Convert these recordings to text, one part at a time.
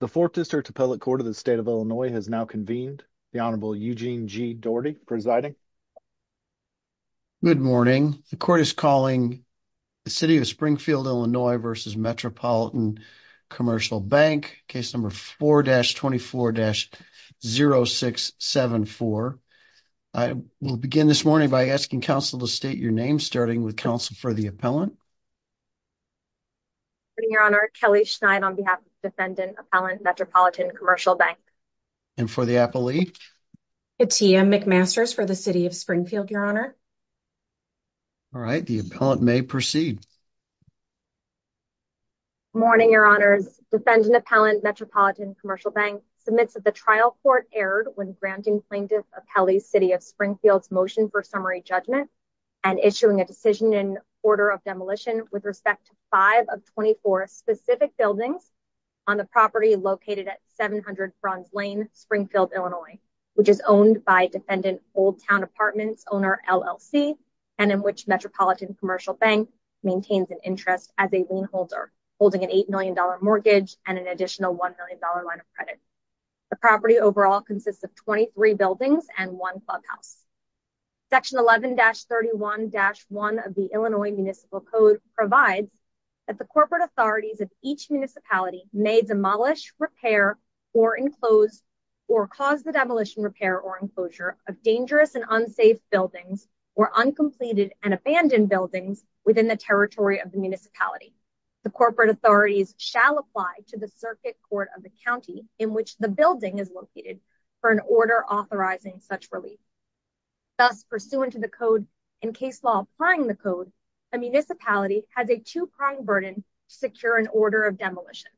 The 4th District Appellate Court of the State of Illinois has now convened. The Honorable Eugene G. Daugherty presiding. Good morning. The court is calling The City of Springfield, Illinois v. Metropolitan Commercial Bank, case number 4-24-0674. I will begin this morning by asking counsel to state your name, starting with counsel for the appellant. Good morning, Your Honor. Kelly Schneid on behalf of the Defendant Appellant, Metropolitan Commercial Bank. And for the appellee? Katia McMasters for the City of Springfield, Your Honor. All right. The appellant may proceed. Good morning, Your Honors. Defendant Appellant, Metropolitan Commercial Bank submits that the trial court erred when granting plaintiff Appellee City of Springfield's motion for summary judgment and issuing a decision in order of demolition with respect to 5 of 24 specific buildings on the property located at 700 Bronze Lane, Springfield, Illinois, which is owned by Defendant Old Town Apartments Owner, LLC, and in which Metropolitan Commercial Bank maintains an interest as a lien holder, holding an $8 million mortgage and an additional $1 million line of credit. The property overall consists of 23 buildings and one clubhouse. Section 11-31-1 of the Illinois Municipal Code provides that the corporate authorities of each municipality may demolish, repair, or enclose, or cause the demolition, repair, or enclosure of dangerous and unsafe buildings or uncompleted and abandoned buildings within the territory of the municipality. The corporate authorities shall apply to the circuit court of the county in which the building is located for an order authorizing such relief. Thus, pursuant to the code and case law applying the code, a municipality has a two-pronged burden to secure an order of demolition.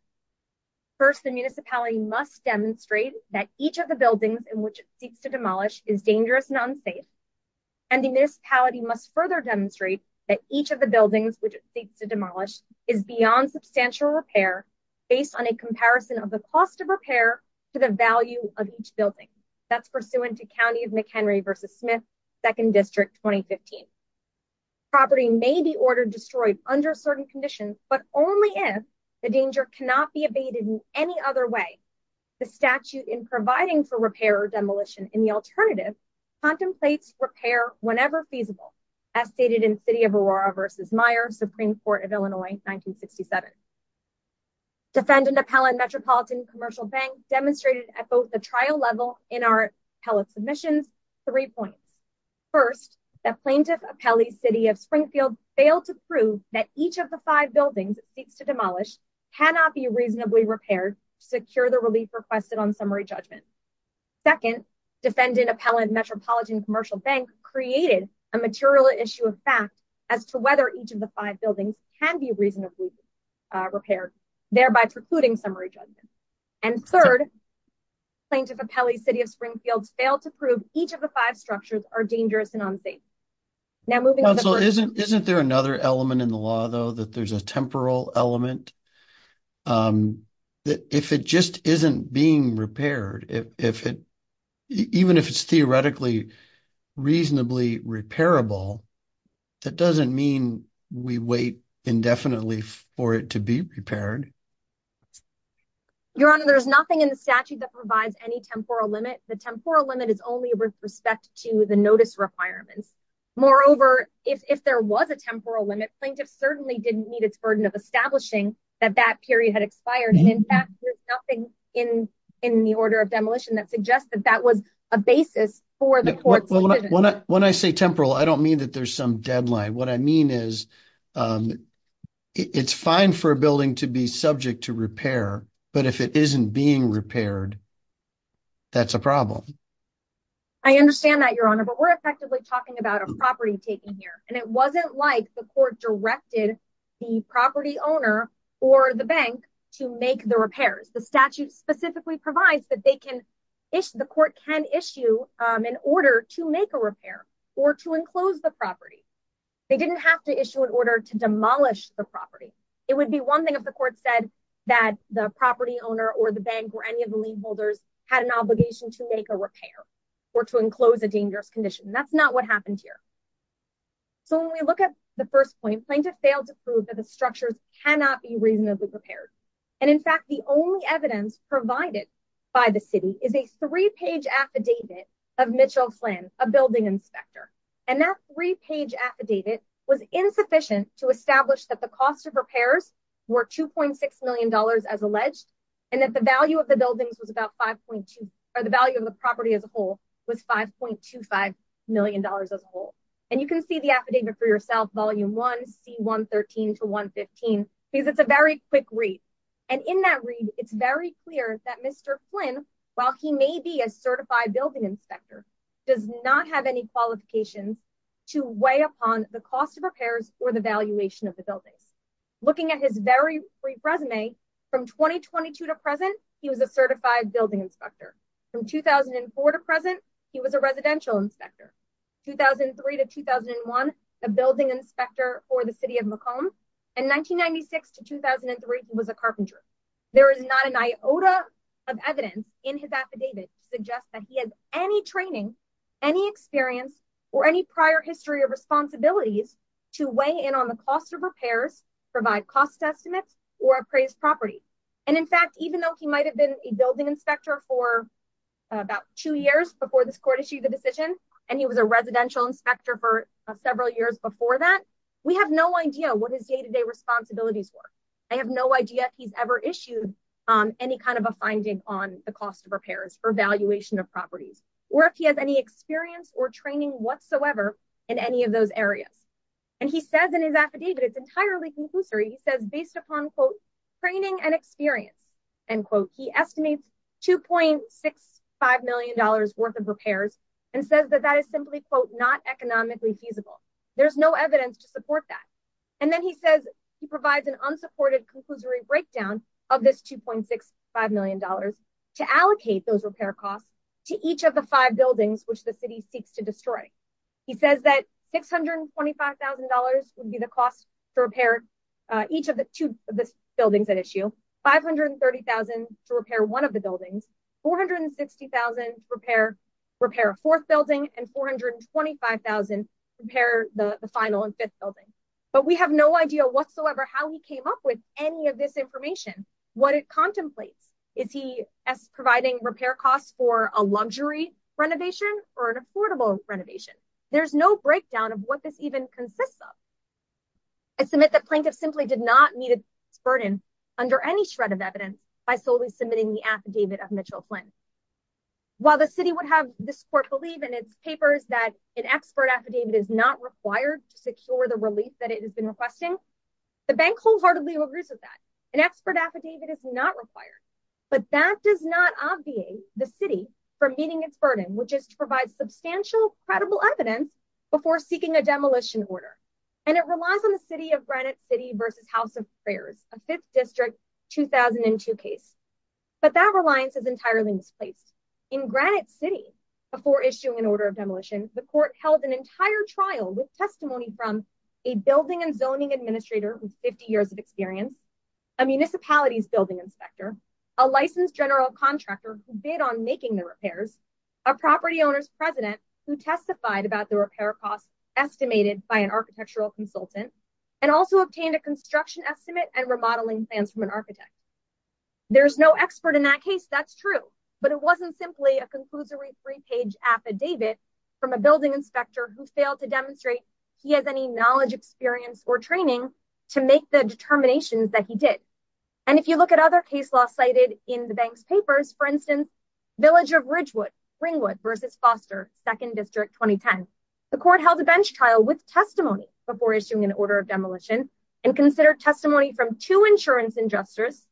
First, the municipality must demonstrate that each of the buildings in which it seeks to demolish is dangerous and unsafe, and the municipality must further demonstrate that each of the buildings which it seeks to demolish is beyond substantial repair based on a comparison of the cost of repair to the value of each building. That's pursuant to County of McHenry v. Smith, 2nd District, 2015. The property may be ordered destroyed under certain conditions, but only if the danger cannot be evaded in any other way. The statute in providing for repair or demolition in the alternative contemplates repair whenever feasible, as stated in City of Aurora v. Meyer, Supreme Court of Illinois, 1967. Defendant Appellant Metropolitan Commercial Bank demonstrated at both the trial level and our appellate submissions three points. First, that Plaintiff Appellee, City of Springfield, failed to prove that each of the five buildings it seeks to demolish cannot be reasonably repaired to secure the relief requested on summary judgment. Second, Defendant Appellant Metropolitan Commercial Bank created a material issue of fact as to whether each of the five buildings can be reasonably repaired, thereby precluding summary judgment. And third, Plaintiff Appellee, City of Springfield, failed to prove each of the five structures are dangerous and unsafe. Counsel, isn't there another element in the law, though, that there's a temporal element? If it just isn't being repaired, even if it's theoretically reasonably repairable, that doesn't mean we wait indefinitely for it to be repaired. Your Honor, there's nothing in the statute that provides any temporal limit. The temporal limit is only with respect to the notice requirements. Moreover, if there was a temporal limit, plaintiff certainly didn't need its burden of establishing that that period had expired. In fact, there's nothing in the order of demolition that suggests that that was a basis for the court's decision. When I say temporal, I don't mean that there's some deadline. What I mean is it's fine for a building to be subject to repair, but if it isn't being repaired, that's a problem. I understand that, Your Honor, but we're effectively talking about a property taken here. And it wasn't like the court directed the property owner or the bank to make the repairs. The statute specifically provides that the court can issue an order to make a repair or to enclose the property. They didn't have to issue an order to demolish the property. It would be one thing if the court said that the property owner or the bank or any of the lien holders had an obligation to make a repair or to enclose a dangerous condition. That's not what happened here. So when we look at the first point, plaintiff failed to prove that the structures cannot be reasonably repaired. And in fact, the only evidence provided by the city is a three-page affidavit of Mitchell Flynn, a building inspector. And that three-page affidavit was insufficient to establish that the cost of repairs were $2.6 million as alleged, and that the value of the property as a whole was $5.25 million as a whole. And you can see the affidavit for yourself, Volume 1, C113-115, because it's a very quick read. And in that read, it's very clear that Mr. Flynn, while he may be a certified building inspector, does not have any qualifications to weigh upon the cost of repairs or the valuation of the buildings. Looking at his very brief resume, from 2022 to present, he was a certified building inspector. From 2004 to present, he was a residential inspector. 2003 to 2001, a building inspector for the city of Macomb. And 1996 to 2003, he was a carpenter. There is not an iota of evidence in his affidavit to suggest that he has any training, any experience, or any prior history of responsibilities to weigh in on the cost of repairs, provide cost estimates, or appraise property. And in fact, even though he might have been a building inspector for about two years before this court issued the decision, and he was a residential inspector for several years before that, we have no idea what his day-to-day responsibilities were. I have no idea if he's ever issued any kind of a finding on the cost of repairs or valuation of properties, or if he has any experience or training whatsoever in any of those areas. And he says in his affidavit, it's entirely conclusive. In 2003, he says based upon, quote, training and experience, end quote, he estimates $2.65 million worth of repairs and says that that is simply, quote, not economically feasible. There's no evidence to support that. And then he says he provides an unsupported conclusory breakdown of this $2.65 million to allocate those repair costs to each of the five buildings which the city seeks to destroy. He says that $625,000 would be the cost to repair each of the two buildings at issue, $530,000 to repair one of the buildings, $460,000 to repair a fourth building, and $425,000 to repair the final and fifth building. But we have no idea whatsoever how he came up with any of this information, what it contemplates. Is he providing repair costs for a luxury renovation or an affordable renovation? There's no breakdown of what this even consists of. I submit that plaintiffs simply did not meet its burden under any shred of evidence by solely submitting the affidavit of Mitchell Flynn. While the city would have this court believe in its papers that an expert affidavit is not required to secure the relief that it has been requesting, the bank wholeheartedly agrees with that. An expert affidavit is not required. But that does not obviate the city from meeting its burden, which is to provide substantial, credible evidence before seeking a demolition order. And it relies on the City of Granite City v. House of Prayers, a 5th District 2002 case. But that reliance is entirely misplaced. In Granite City, before issuing an order of demolition, the court held an entire trial with testimony from a building and zoning administrator with 50 years of experience, a municipalities building inspector, a licensed general contractor who bid on making the repairs, a property owner's president who testified about the repair costs estimated by an architectural consultant, and also obtained a construction estimate and remodeling plans from an architect. There's no expert in that case, that's true. But it wasn't simply a conclusory three-page affidavit from a building inspector who failed to demonstrate he has any knowledge, experience, or training to make the determinations that he did. And if you look at other case law cited in the bank's papers, for instance, Village of Ringwood v. Foster, 2nd District 2010, the court held a bench trial with testimony before issuing an order of demolition and considered testimony from two insurance adjusters,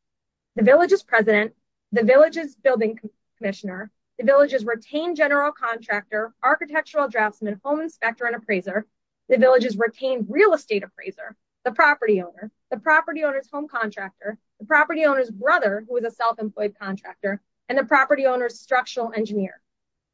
the village's president, the village's building commissioner, the village's retained general contractor, architectural draftsman, home inspector, and appraiser, the village's retained real estate appraiser, the property owner, the property owner's home contractor, the property owner's brother, who was a self-employed contractor, and the property owner's structural engineer.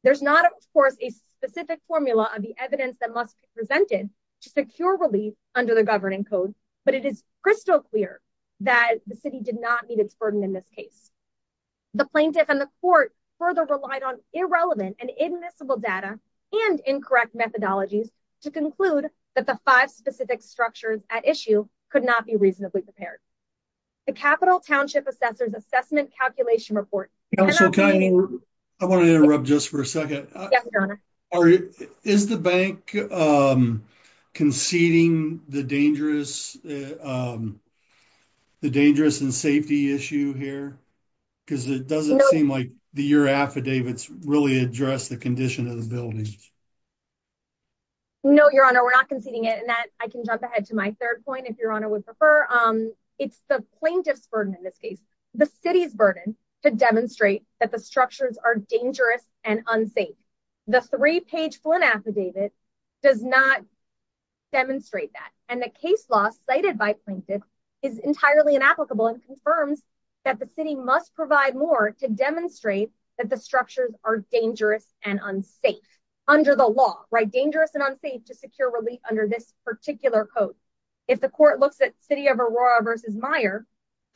There's not, of course, a specific formula of the evidence that must be presented to secure relief under the governing code, but it is crystal clear that the city did not meet its burden in this case. The plaintiff and the court further relied on irrelevant and inadmissible data and incorrect methodologies to conclude that the five specific structures at issue could not be reasonably prepared. The Capital Township Assessor's Assessment Calculation Report cannot be— I want to interrupt just for a second. Yes, Your Honor. Is the bank conceding the dangerous and safety issue here? Because it doesn't seem like your affidavits really address the condition of the buildings. No, Your Honor, we're not conceding it. And I can jump ahead to my third point, if Your Honor would prefer. It's the plaintiff's burden in this case, the city's burden, to demonstrate that the structures are dangerous and unsafe. The three-page Flynn affidavit does not demonstrate that. And the case law cited by plaintiffs is entirely inapplicable and confirms that the city must provide more to demonstrate that the structures are dangerous and unsafe under the law, right? Dangerous and unsafe to secure relief under this particular code. If the court looks at City of Aurora v. Meyer,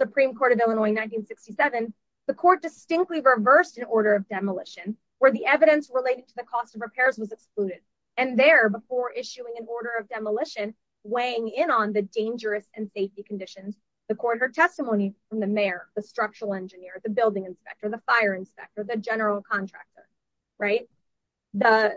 Supreme Court of Illinois 1967, the court distinctly reversed an order of demolition where the evidence related to the cost of repairs was excluded. And there, before issuing an order of demolition weighing in on the dangerous and safety conditions, the court heard testimony from the mayor, the structural engineer, the building inspector, the fire inspector, the general contractor, right? The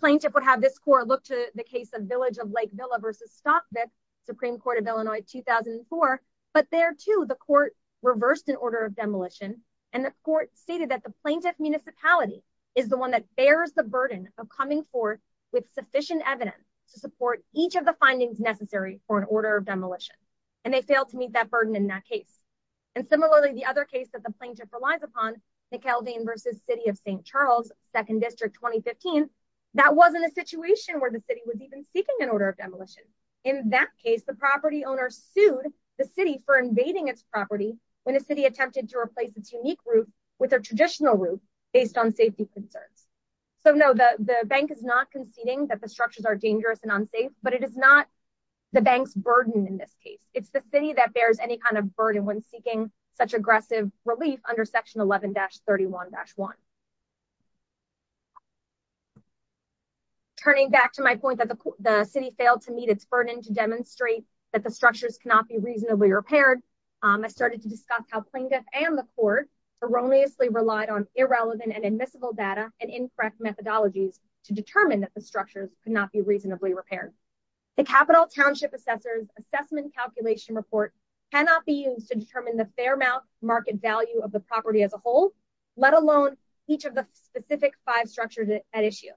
plaintiff would have this court look to the case of Village of Lake Villa v. Stockville, Supreme Court of Illinois 2004. But there, too, the court reversed an order of demolition. And the court stated that the plaintiff's municipality is the one that bears the burden of coming forth with sufficient evidence to support each of the findings necessary for an order of demolition. And they failed to meet that burden in that case. And similarly, the other case that the plaintiff relies upon, McKeldin v. City of St. Charles, 2nd District 2015, that wasn't a situation where the city was even seeking an order of demolition. In that case, the property owner sued the city for invading its property when the city attempted to replace its unique route with a traditional route based on safety concerns. So, no, the bank is not conceding that the structures are dangerous and unsafe, but it is not the bank's burden in this case. It's the city that bears any kind of burden when seeking such aggressive relief under Section 11-31-1. Turning back to my point that the city failed to meet its burden to demonstrate that the structures cannot be reasonably repaired, I started to discuss how plaintiff and the court erroneously relied on irrelevant and admissible data and incorrect methodologies to determine that the structures could not be reasonably repaired. The Capital Township Assessor's Assessment Calculation Report cannot be used to determine the fair market value of the property as a whole, let alone each of the specific five structures at issue.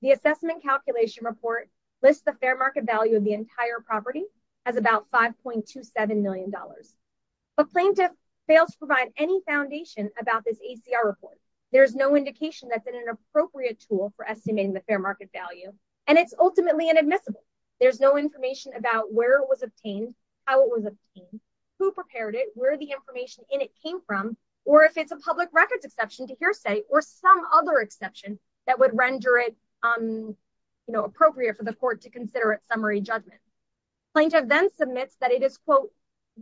The Assessment Calculation Report lists the fair market value of the entire property as about $5.27 million. But plaintiff fails to provide any foundation about this ACR report. There is no indication that's an appropriate tool for estimating the fair market value, and it's ultimately inadmissible. There's no information about where it was obtained, how it was obtained, who prepared it, where the information in it came from, or if it's a public records exception to hearsay or some other exception that would render it appropriate for the court to consider it summary judgment. Plaintiff then submits that it is, quote,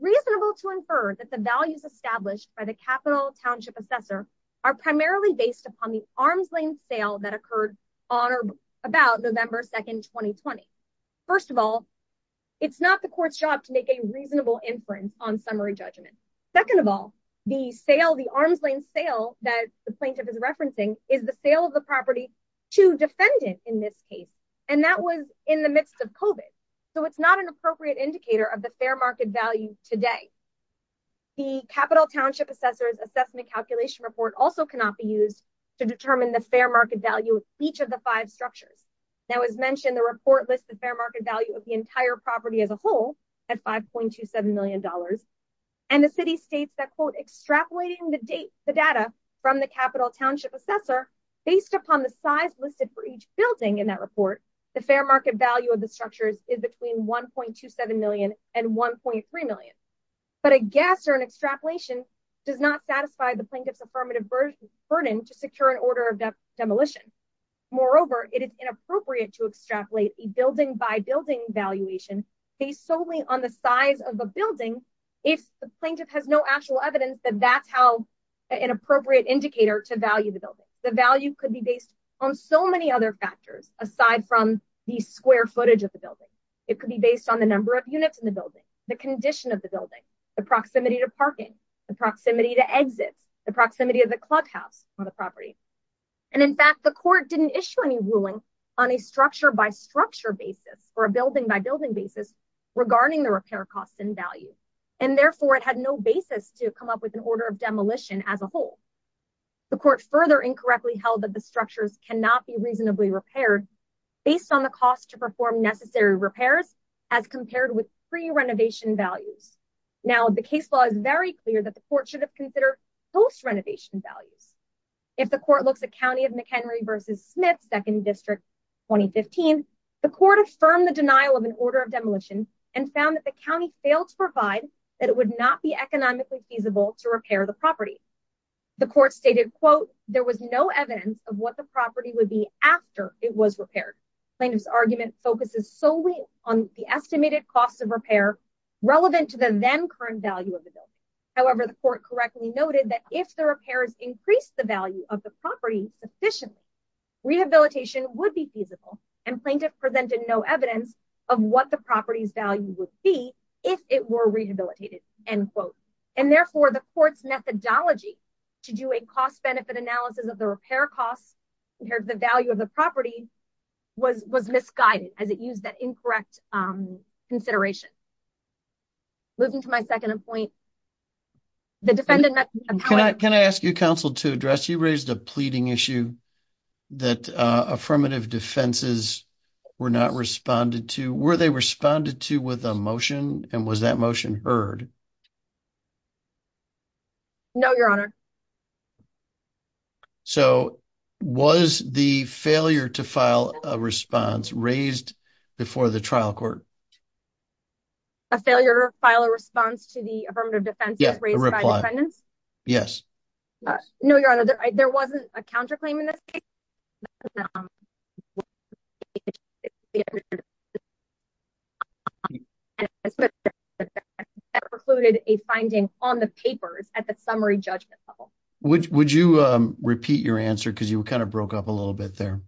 reasonable to infer that the values established by the Capital Township Assessor are primarily based upon the Arms Lane sale that occurred on or about November 2nd, 2020. First of all, it's not the court's job to make a reasonable inference on summary judgment. Second of all, the sale, the Arms Lane sale that the plaintiff is referencing, is the sale of the property to defendant in this case, and that was in the midst of COVID. So it's not an appropriate indicator of the fair market value today. The Capital Township Assessor's assessment calculation report also cannot be used to determine the fair market value of each of the five structures. Now, as mentioned, the report lists the fair market value of the entire property as a whole at $5.27 million, and the city states that, quote, extrapolating the data from the Capital Township Assessor, based upon the size listed for each building in that report, the fair market value of the structures is between $1.27 million and $1.3 million. But a guess or an extrapolation does not satisfy the plaintiff's affirmative burden to secure an order of demolition. Moreover, it is inappropriate to extrapolate a building-by-building evaluation based solely on the size of the building if the plaintiff has no actual evidence that that's an appropriate indicator to value the building. The value could be based on so many other factors aside from the square footage of the building. It could be based on the number of units in the building, the condition of the building, the proximity to parking, the proximity to exits, the proximity of the clubhouse on the property. And in fact, the court didn't issue any ruling on a structure-by-structure basis or a building-by-building basis regarding the repair costs and value, and therefore it had no basis to come up with an order of demolition as a whole. The court further incorrectly held that the structures cannot be reasonably repaired based on the cost to perform necessary repairs as compared with pre-renovation values. Now, the case law is very clear that the court should have considered post-renovation values. If the court looks at County of McHenry v. Smith, 2nd District, 2015, the court affirmed the denial of an order of demolition and found that the county failed to provide that it would not be economically feasible to repair the property. The court stated, quote, there was no evidence of what the property would be after it was repaired. Plaintiff's argument focuses solely on the estimated cost of repair relevant to the then-current value of the building. However, the court correctly noted that if the repairs increased the value of the property sufficiently, rehabilitation would be feasible, and plaintiff presented no evidence of what the property's value would be if it were rehabilitated, end quote. And therefore, the court's methodology to do a cost-benefit analysis of the repair costs compared to the value of the property was misguided as it used that incorrect consideration. Moving to my second point. Can I ask you, Counsel, to address? You raised a pleading issue that affirmative defenses were not responded to. Were they responded to with a motion, and was that motion heard? No, Your Honor. So, was the failure to file a response raised before the trial court? A failure to file a response to the affirmative defense was raised by defendants? No, Your Honor. There wasn't a counterclaim in this case. That precluded a finding on the papers at the summary judgment level. Would you repeat your answer? Because you kind of broke up a little bit there.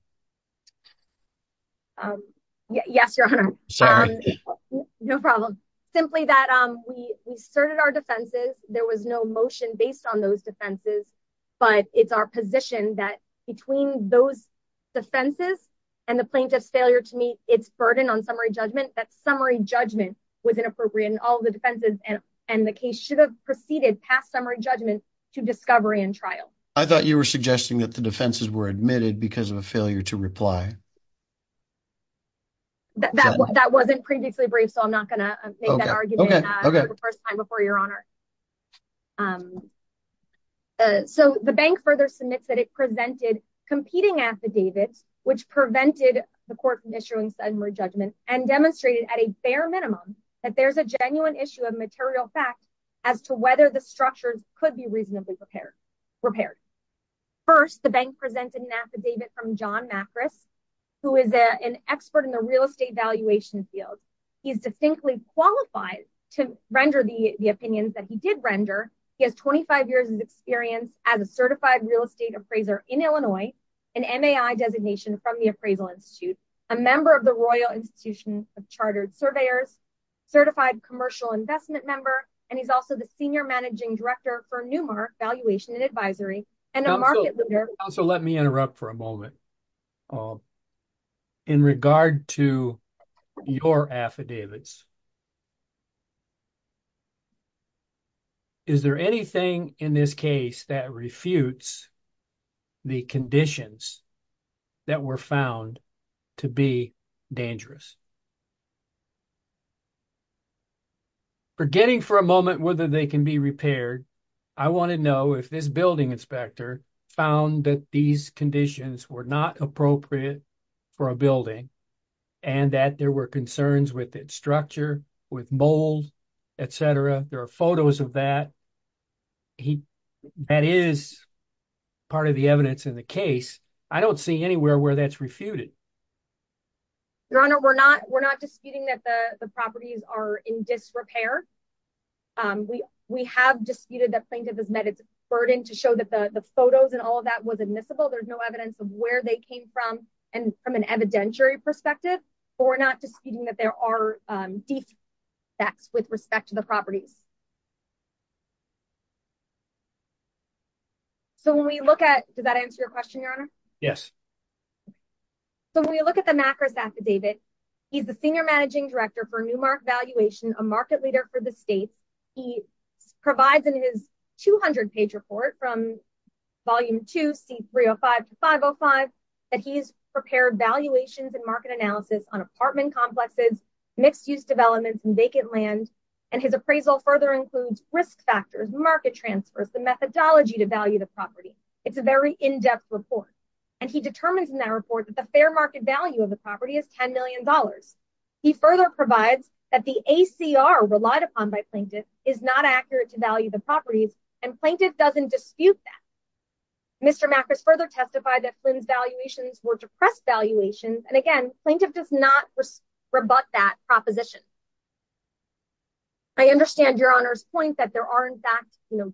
Yes, Your Honor. Sorry. No problem. Simply that we asserted our defenses. There was no motion based on those defenses, but it's our position that between those defenses and the plaintiff's failure to meet its burden on summary judgment, that summary judgment was inappropriate in all the defenses, and the case should have proceeded past summary judgment to discovery and trial. I thought you were suggesting that the defenses were admitted because of a failure to reply. That wasn't previously brief, so I'm not going to make that argument for the first time before, Your Honor. So, the bank further submits that it presented competing affidavits, which prevented the court from issuing summary judgment, and demonstrated at a bare minimum that there's a genuine issue of material fact as to whether the structures could be reasonably repaired. First, the bank presented an affidavit from John Macris, who is an expert in the real estate valuation field. He is distinctly qualified to render the opinions that he did render. He has 25 years of experience as a certified real estate appraiser in Illinois, an MAI designation from the Appraisal Institute, a member of the Royal Institution of Chartered Surveyors, certified commercial investment member, and he's also the Senior Managing Director for Newmark Valuation and Advisory, and a market leader. Counselor, let me interrupt for a moment. In regard to your affidavits, is there anything in this case that refutes the conditions that were found to be dangerous? Forgetting for a moment whether they can be repaired, I want to know if this building inspector found that these conditions were not appropriate for a building, and that there were concerns with its structure, with mold, etc. There are photos of that. That is part of the evidence in the case. I don't see anywhere where that's refuted. Your Honor, we're not disputing that the properties are in disrepair. We have disputed that plaintiff has met its burden to show that the photos and all of that was admissible. There's no evidence of where they came from and from an evidentiary perspective. We're not disputing that there are defects with respect to the properties. Does that answer your question, Your Honor? Yes. When we look at the Makris affidavit, he's the senior managing director for Newmark Valuation, a market leader for the state. He provides in his 200-page report from Volume 2, C305-505, that he's prepared valuations and market analysis on apartment complexes, mixed-use developments, and vacant land. His appraisal further includes risk factors, market transfers, the methodology to value the property. It's a very in-depth report. And he determines in that report that the fair market value of the property is $10 million. He further provides that the ACR relied upon by plaintiff is not accurate to value the properties, and plaintiff doesn't dispute that. Mr. Makris further testified that Flynn's valuations were depressed valuations. And again, plaintiff does not rebut that proposition. I understand Your Honor's point that there are, in fact,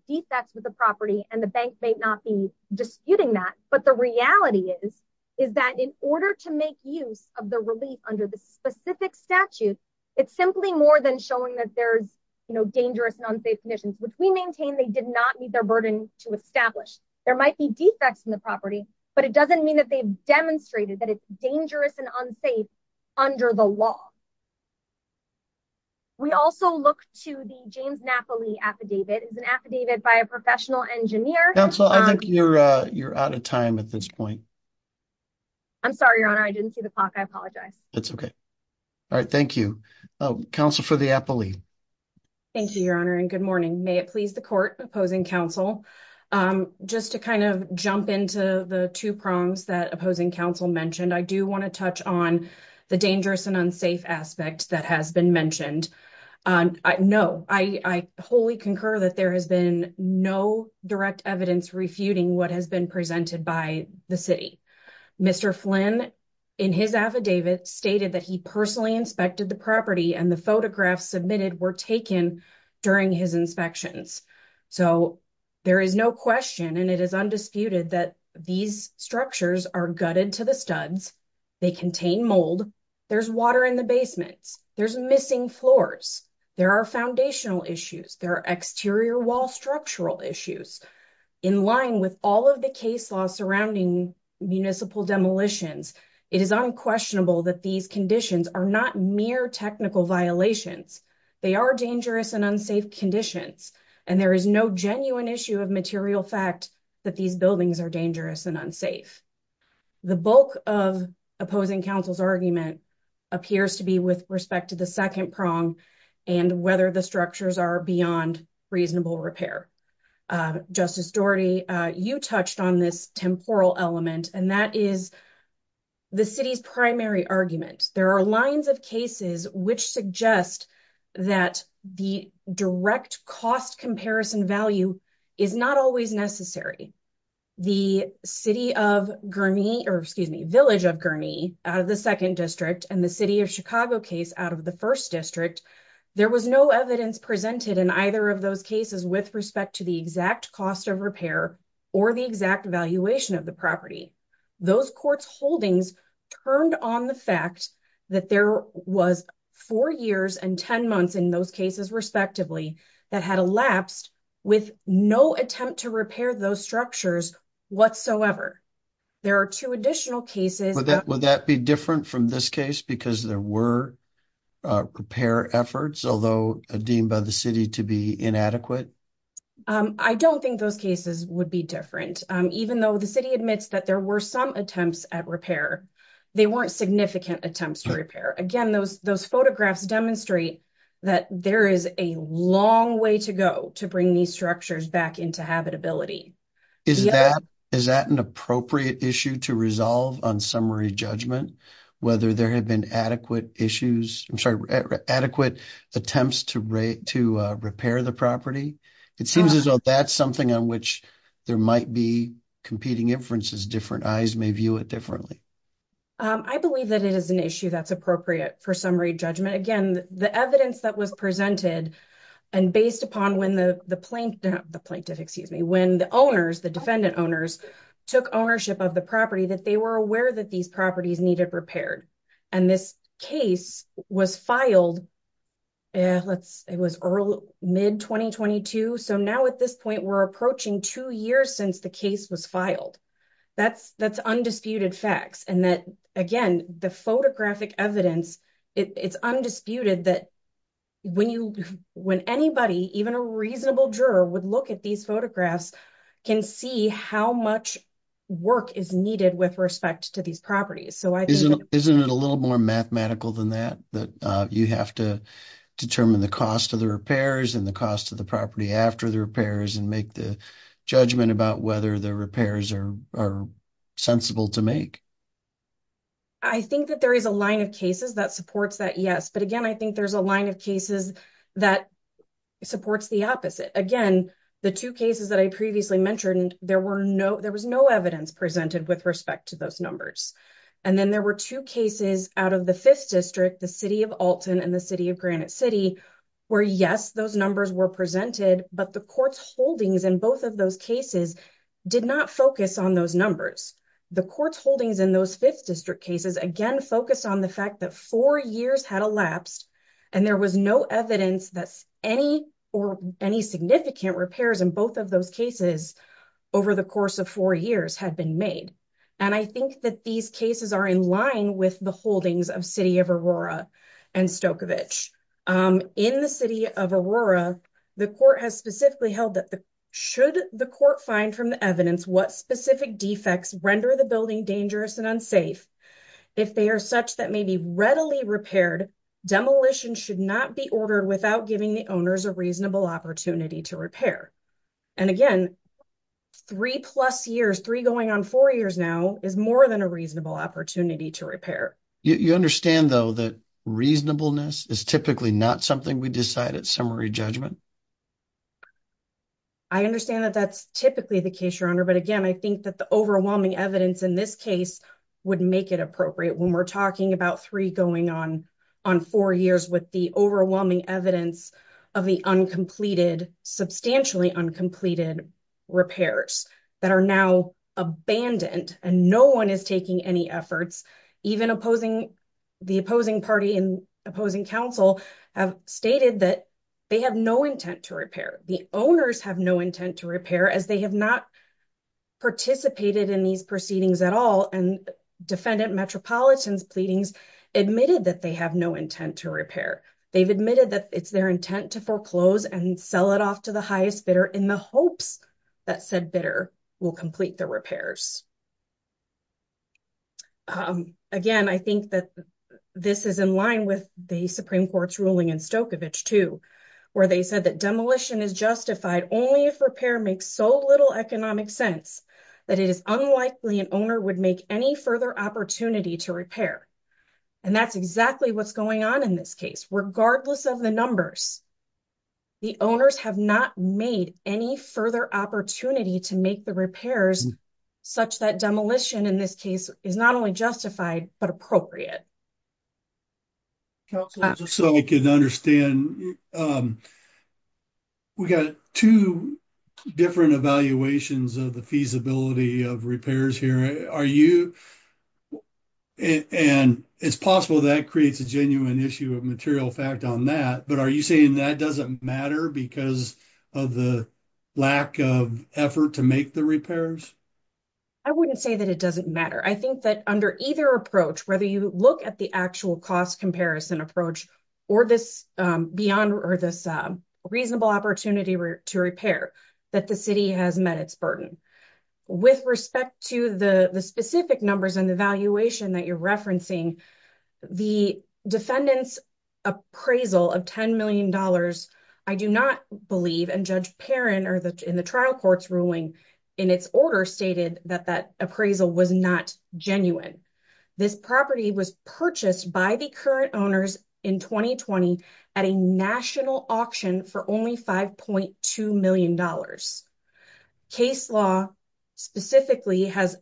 defects with the property, and the bank may not be disputing that, but the reality is, is that in order to make use of the relief under the specific statute, it's simply more than showing that there's, you know, dangerous and unsafe conditions, which we maintain they did not meet their burden to establish. There might be defects in the property, but it doesn't mean that they've demonstrated that it's dangerous and unsafe under the law. We also look to the James Napoli affidavit. It's an affidavit by a professional engineer. Counsel, I think you're out of time at this point. I'm sorry, Your Honor. I didn't see the clock. That's okay. All right. Thank you. Counsel for the appellee. Thank you, Your Honor, and good morning. May it please the court opposing counsel. Just to kind of jump into the two prongs that opposing counsel mentioned, I do want to touch on the dangerous and unsafe aspect that has been mentioned. No, I wholly concur that there has been no direct evidence refuting what has been presented by the city. Mr. Flynn in his affidavit stated that he personally inspected the property and the photographs submitted were taken during his inspections. So there is no question and it is undisputed that these structures are gutted to the studs. They contain mold. There's water in the basements. There's missing floors. There are foundational issues. There are exterior wall structural issues. In line with all of the case law surrounding municipal demolitions, it is unquestionable that these conditions are not mere technical violations. They are dangerous and unsafe conditions, and there is no genuine issue of material fact that these buildings are dangerous and unsafe. The bulk of opposing counsel's argument appears to be with respect to the second prong and whether the structures are beyond reasonable repair. Justice Daugherty, you touched on this temporal element, and that is the city's primary argument. There are lines of cases which suggest that the direct cost comparison value is not always necessary. The Village of Gurnee out of the 2nd District and the City of Chicago case out of the 1st District, there was no evidence presented in either of those cases with respect to the exact cost of repair or the exact valuation of the property. Those courts' holdings turned on the fact that there was 4 years and 10 months in those cases respectively that had elapsed with no attempt to repair those structures whatsoever. There are 2 additional cases... Would that be different from this case because there were repair efforts, although deemed by the city to be inadequate? I don't think those cases would be different. Even though the city admits that there were some attempts at repair, they weren't significant attempts to repair. Again, those photographs demonstrate that there is a long way to go to bring these structures back into habitability. Is that an appropriate issue to resolve on summary judgment, whether there have been adequate attempts to repair the property? It seems as though that's something on which there might be competing inferences. Different eyes may view it differently. I believe that it is an issue that's appropriate for summary judgment. Again, the evidence that was presented and based upon when the plaintiff, when the owners, the defendant owners, took ownership of the property, that they were aware that these properties needed repaired. This case was filed... It was mid-2022, so now at this point we're approaching 2 years since the case was filed. That's undisputed facts. Again, the photographic evidence, it's undisputed that when anybody, even a reasonable juror, would look at these photographs, can see how much work is needed with respect to these properties. Isn't it a little more mathematical than that, that you have to determine the cost of the repairs and the cost of the property after the repairs and make the judgment about whether the repairs are sensible to make? I think that there is a line of cases that supports that, yes. But again, I think there's a line of cases that supports the opposite. Again, the two cases that I previously mentioned, there was no evidence presented with respect to those numbers. And then there were two cases out of the 5th District, the City of Alton and the City of Granite City, where yes, those numbers were presented, but the court's holdings in both of those cases did not focus on those numbers. The court's holdings in those 5th District cases, again, focused on the fact that 4 years had elapsed, and there was no evidence that any significant repairs in both of those cases over the course of 4 years had been made. And I think that these cases are in line with the holdings of City of Aurora and Stokovitch. In the City of Aurora, the court has specifically held that should the court find from the evidence what specific defects render the building dangerous and unsafe, if they are such that may be readily repaired, demolition should not be ordered without giving the owners a reasonable opportunity to repair. And again, 3 plus years, 3 going on 4 years now, is more than a reasonable opportunity to repair. You understand, though, that reasonableness is typically not something we decide at summary judgment? I understand that that's typically the case, Your Honor, but again, I think that the overwhelming evidence in this case would make it appropriate when we're talking about 3 going on 4 years with the overwhelming evidence of the uncompleted, substantially uncompleted repairs that are now abandoned, and no one is taking any efforts, even the opposing party and opposing counsel have stated that they have no intent to repair. The owners have no intent to repair as they have not participated in these proceedings at all. And defendant Metropolitan's pleadings admitted that they have no intent to repair. They've admitted that it's their intent to foreclose and sell it off to the highest bidder in the hopes that said bidder will complete the repairs. Again, I think that this is in line with the Supreme Court's ruling in Stokovitch 2, where they said that demolition is justified only if repair makes so little economic sense that it is unlikely an owner would make any further opportunity to repair. And that's exactly what's going on in this case. Regardless of the numbers, the owners have not made any further opportunity to make the repairs such that demolition in this case is not only justified, but appropriate. Just so we can understand, we got two different evaluations of the feasibility of repairs here. And it's possible that creates a genuine issue of material fact on that, but are you saying that doesn't matter because of the lack of effort to make the repairs? I wouldn't say that it doesn't matter. I think that under either approach, whether you look at the actual cost comparison approach or this reasonable opportunity to repair, that the city has met its burden. With respect to the specific numbers and the evaluation that you're referencing, the defendant's appraisal of $10 million, I do not believe, and Judge Perrin in the trial court's ruling in its order stated that that appraisal was not genuine. This property was purchased by the current owners in 2020 at a national auction for only $5.2 million. Case law specifically has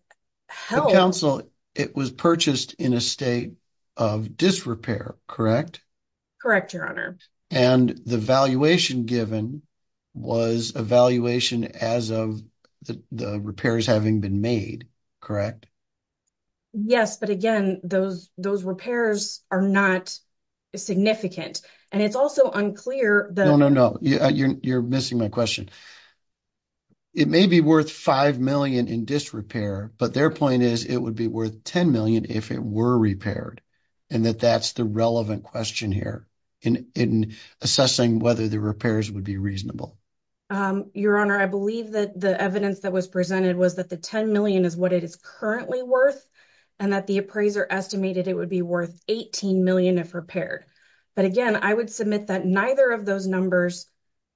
held- The council, it was purchased in a state of disrepair, correct? Correct, Your Honor. And the valuation given was a valuation as of the repairs having been made, correct? Yes, but again, those repairs are not significant. And it's also unclear that- No, no, no. You're missing my question. It may be worth $5 million in disrepair, but their point is it would be worth $10 million if it were repaired, and that that's the relevant question here in assessing whether the repairs would be reasonable. Your Honor, I believe that the evidence that was presented was that the $10 million is what it is currently worth and that the appraiser estimated it would be worth $18 million if repaired. But again, I would submit that neither of those numbers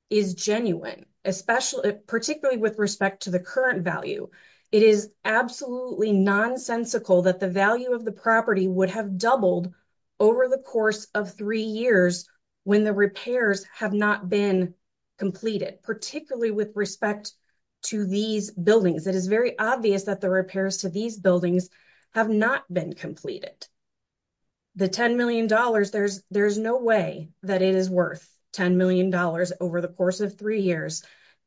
is genuine, particularly with respect to the current value. It is absolutely nonsensical that the value of the property would have doubled over the course of three years when the repairs have not been completed, particularly with respect to these buildings. It is very obvious that the repairs to these buildings have not been completed. The $10 million, there's no way that it is worth $10 million over the course of three years.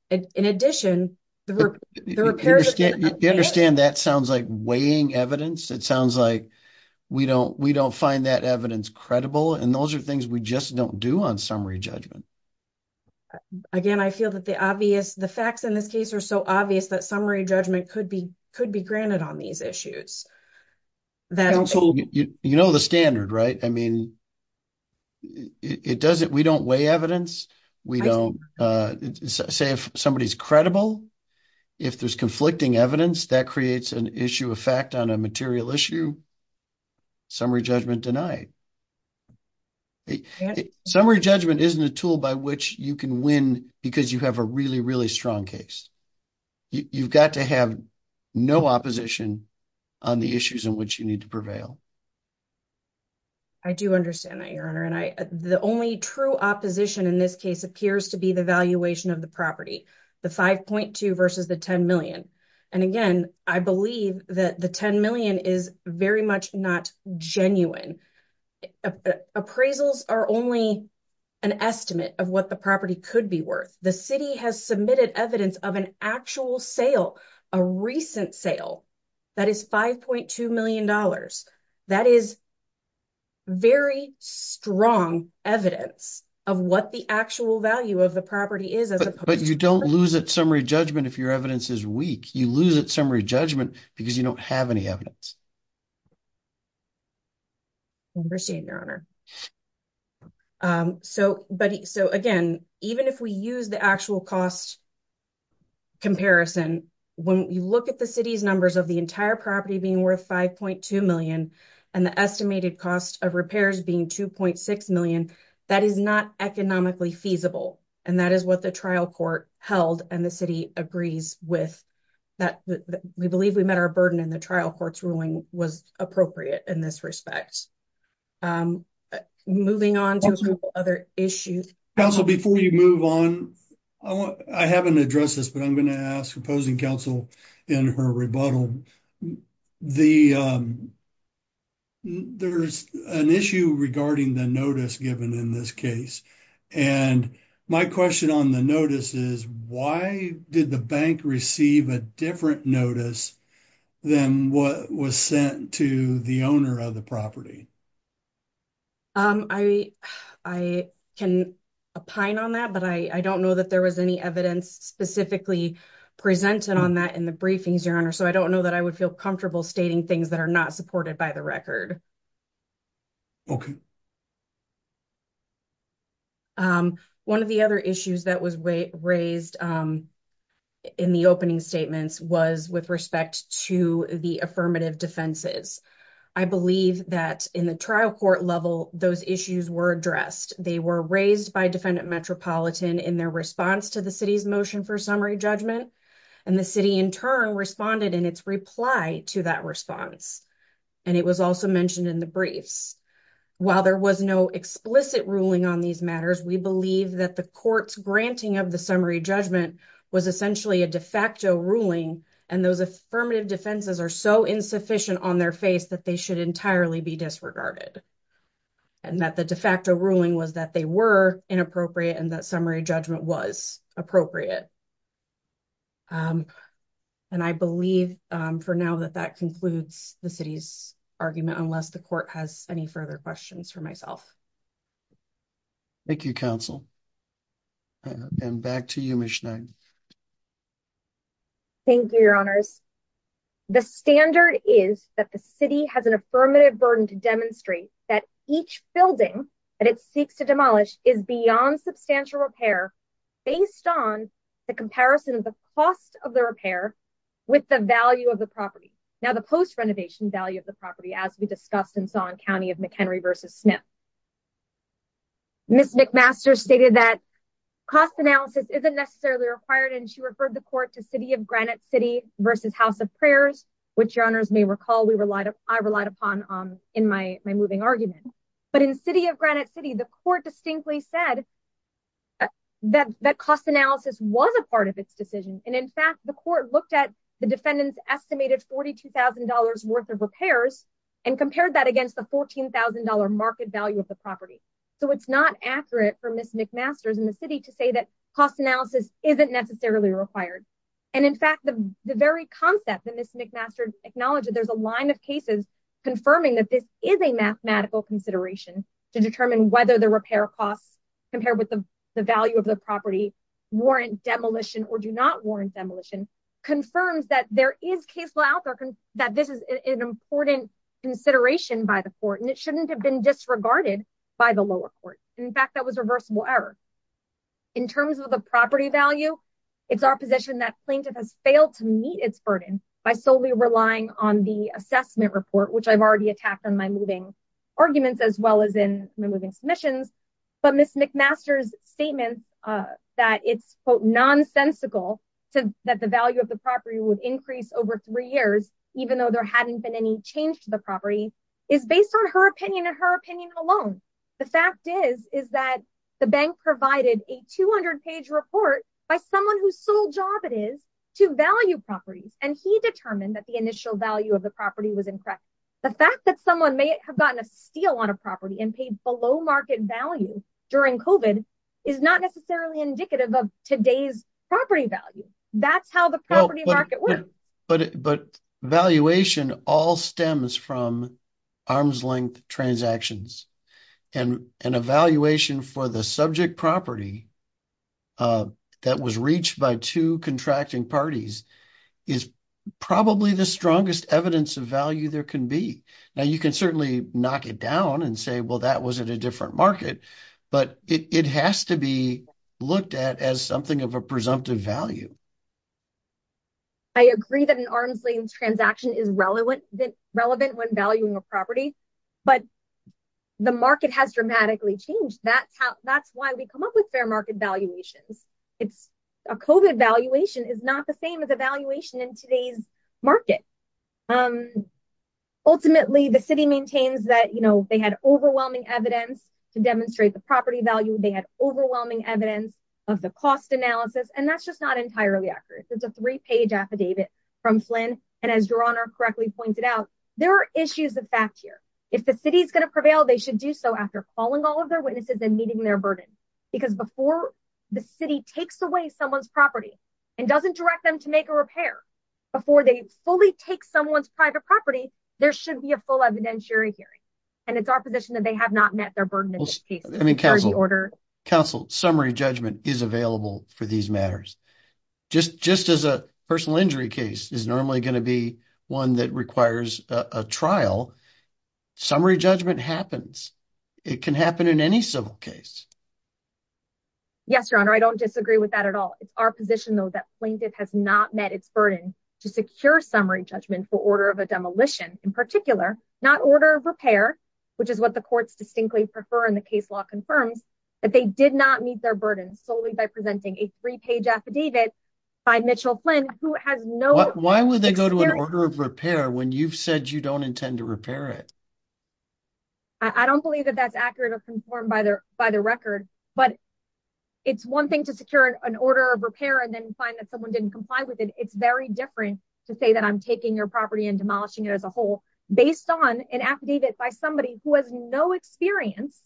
In addition, the repairs- You understand that sounds like weighing evidence. It sounds like we don't find that evidence credible, and those are things we just don't do on summary judgment. Again, I feel that the facts in this case are so obvious that summary judgment could be granted on these issues. You know the standard, right? I mean, we don't weigh evidence. Say if somebody's credible, if there's conflicting evidence, that creates an issue of fact on a material issue, summary judgment denied. Summary judgment isn't a tool by which you can win because you have a really, really strong case. You've got to have no opposition on the issues in which you need to prevail. I do understand that, Your Honor, and the only true opposition in this case appears to be the valuation of the property, the 5.2 versus the $10 million. And again, I believe that the $10 million is very much not genuine. Appraisals are only an estimate of what the property could be worth. The city has submitted evidence of an actual sale, a recent sale that is $5.2 million. That is very strong evidence of what the actual value of the property is. But you don't lose at summary judgment if your evidence is weak. You lose at summary judgment because you don't have any evidence. I understand, Your Honor. Again, even if we use the actual cost comparison, when you look at the city's numbers of the entire property being worth $5.2 million and the estimated cost of repairs being $2.6 million, that is not economically feasible. And that is what the trial court held and the city agrees with. We believe we met our burden in the trial court's ruling was appropriate in this respect. Thank you. Moving on to a couple of other issues. Council, before you move on, I haven't addressed this, but I'm going to ask opposing counsel in her rebuttal. There's an issue regarding the notice given in this case. And my question on the notice is, why did the bank receive a different notice than what was sent to the owner of the property? I can opine on that, but I don't know that there was any evidence specifically presented on that in the briefings, Your Honor. So I don't know that I would feel comfortable stating things that are not supported by the record. Okay. One of the other issues that was raised in the opening statements was with respect to the affirmative defenses. I believe that in the trial court level, those issues were addressed. They were raised by defendant metropolitan in their response to the city's motion for summary judgment. And the city in turn responded in its reply to that response. And it was also mentioned in the briefs. While there was no explicit ruling on these matters, we believe that the court's granting of the summary judgment was essentially a de facto ruling. And those affirmative defenses are so insufficient on their face that they should entirely be disregarded. And that the de facto ruling was that they were inappropriate and that summary judgment was appropriate. And I believe for now that that concludes the city's argument, unless the court has any further questions for myself. Thank you, counsel. And back to you, Ms. Schneider. Thank you, Your Honors. The standard is that the city has an affirmative burden to demonstrate that each building that it seeks to demolish is beyond substantial repair based on the comparison of the cost of the repair with the value of the property. Now, the post-renovation value of the property, as we discussed and saw in County of McHenry versus Smith. Ms. McMaster stated that cost analysis isn't necessarily required, and she referred the court to City of Granite City versus House of Prayers, which Your Honors may recall I relied upon in my moving argument. But in City of Granite City, the court distinctly said that cost analysis was a part of its decision. And in fact, the court looked at the defendant's estimated $42,000 worth of repairs and compared that against the $14,000 market value of the property. So it's not accurate for Ms. McMaster in the city to say that cost analysis isn't necessarily required. And in fact, the very concept that Ms. McMaster acknowledged, there's a line of cases confirming that this is a mathematical consideration to determine whether the repair costs compared with the value of the property warrant demolition or do not warrant demolition, confirms that there is case law out there that this is an important consideration by the court, and it shouldn't have been disregarded by the lower court. In fact, that was reversible error. In terms of the property value, it's our position that plaintiff has failed to meet its burden by solely relying on the assessment report, which I've already attacked on my moving arguments, as well as in my moving submissions. But Ms. McMaster's statement that it's, quote, nonsensical that the value of the property would increase over three years, even though there hadn't been any change to the property, is based on her opinion and her opinion alone. The fact is, is that the bank provided a 200-page report by someone whose sole job it is to value properties, and he determined that the initial value of the property was incorrect. The fact that someone may have gotten a steal on a property and paid below-market value during COVID is not necessarily indicative of today's property value. That's how the property market works. But valuation all stems from arm's-length transactions, and an evaluation for the subject property that was reached by two contracting parties is probably the strongest evidence of value there can be. Now, you can certainly knock it down and say, well, that was at a different market, but it has to be looked at as something of a presumptive value. I agree that an arm's-length transaction is relevant when valuing a property, but the market has dramatically changed. That's why we come up with fair market valuations. A COVID valuation is not the same as a valuation in today's market. Ultimately, the city maintains that they had overwhelming evidence to demonstrate the property value. They had overwhelming evidence of the cost analysis, and that's just not entirely accurate. It's a three-page affidavit from Flynn, and as Your Honor correctly pointed out, there are issues of fact here. If the city is going to prevail, they should do so after calling all of their witnesses and meeting their burden, because before the city takes away someone's property and doesn't direct them to make a repair, before they fully take someone's private property, there should be a full evidentiary hearing, and it's our position that they have not met their burden in this case. Counsel, summary judgment is available for these matters. Just as a personal injury case is normally going to be one that requires a trial, summary judgment happens. It can happen in any civil case. Yes, Your Honor, I don't disagree with that at all. It's our position, though, that plaintiff has not met its burden to secure summary judgment for order of a demolition, in particular, not order of repair, which is what the courts distinctly prefer and the case law confirms, that they did not meet their burden solely by presenting a three-page affidavit by Mitchell Flynn, who has no... Why would they go to an order of repair when you've said you don't intend to repair it? I don't believe that that's accurate or conformed by the record, but it's one thing to secure an order of repair and then find that someone didn't comply with it. It's very different to say that I'm taking your property and demolishing it as a whole based on an affidavit by somebody who has no experience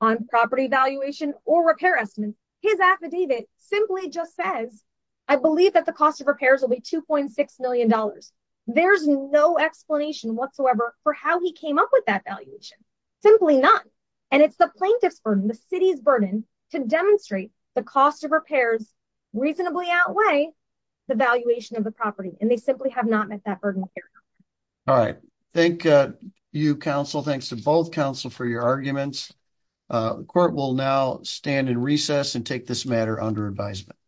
on property valuation or repair estimates. His affidavit simply just says, I believe that the cost of repairs will be $2.6 million. There's no explanation whatsoever for how he came up with that valuation, simply none. And it's the plaintiff's burden, the city's burden to demonstrate the cost of repairs reasonably outweigh the valuation of the property. And they simply have not met that burden of care. All right. Thank you, counsel. Thanks to both counsel for your arguments. Court will now stand in recess and take this matter under advisement.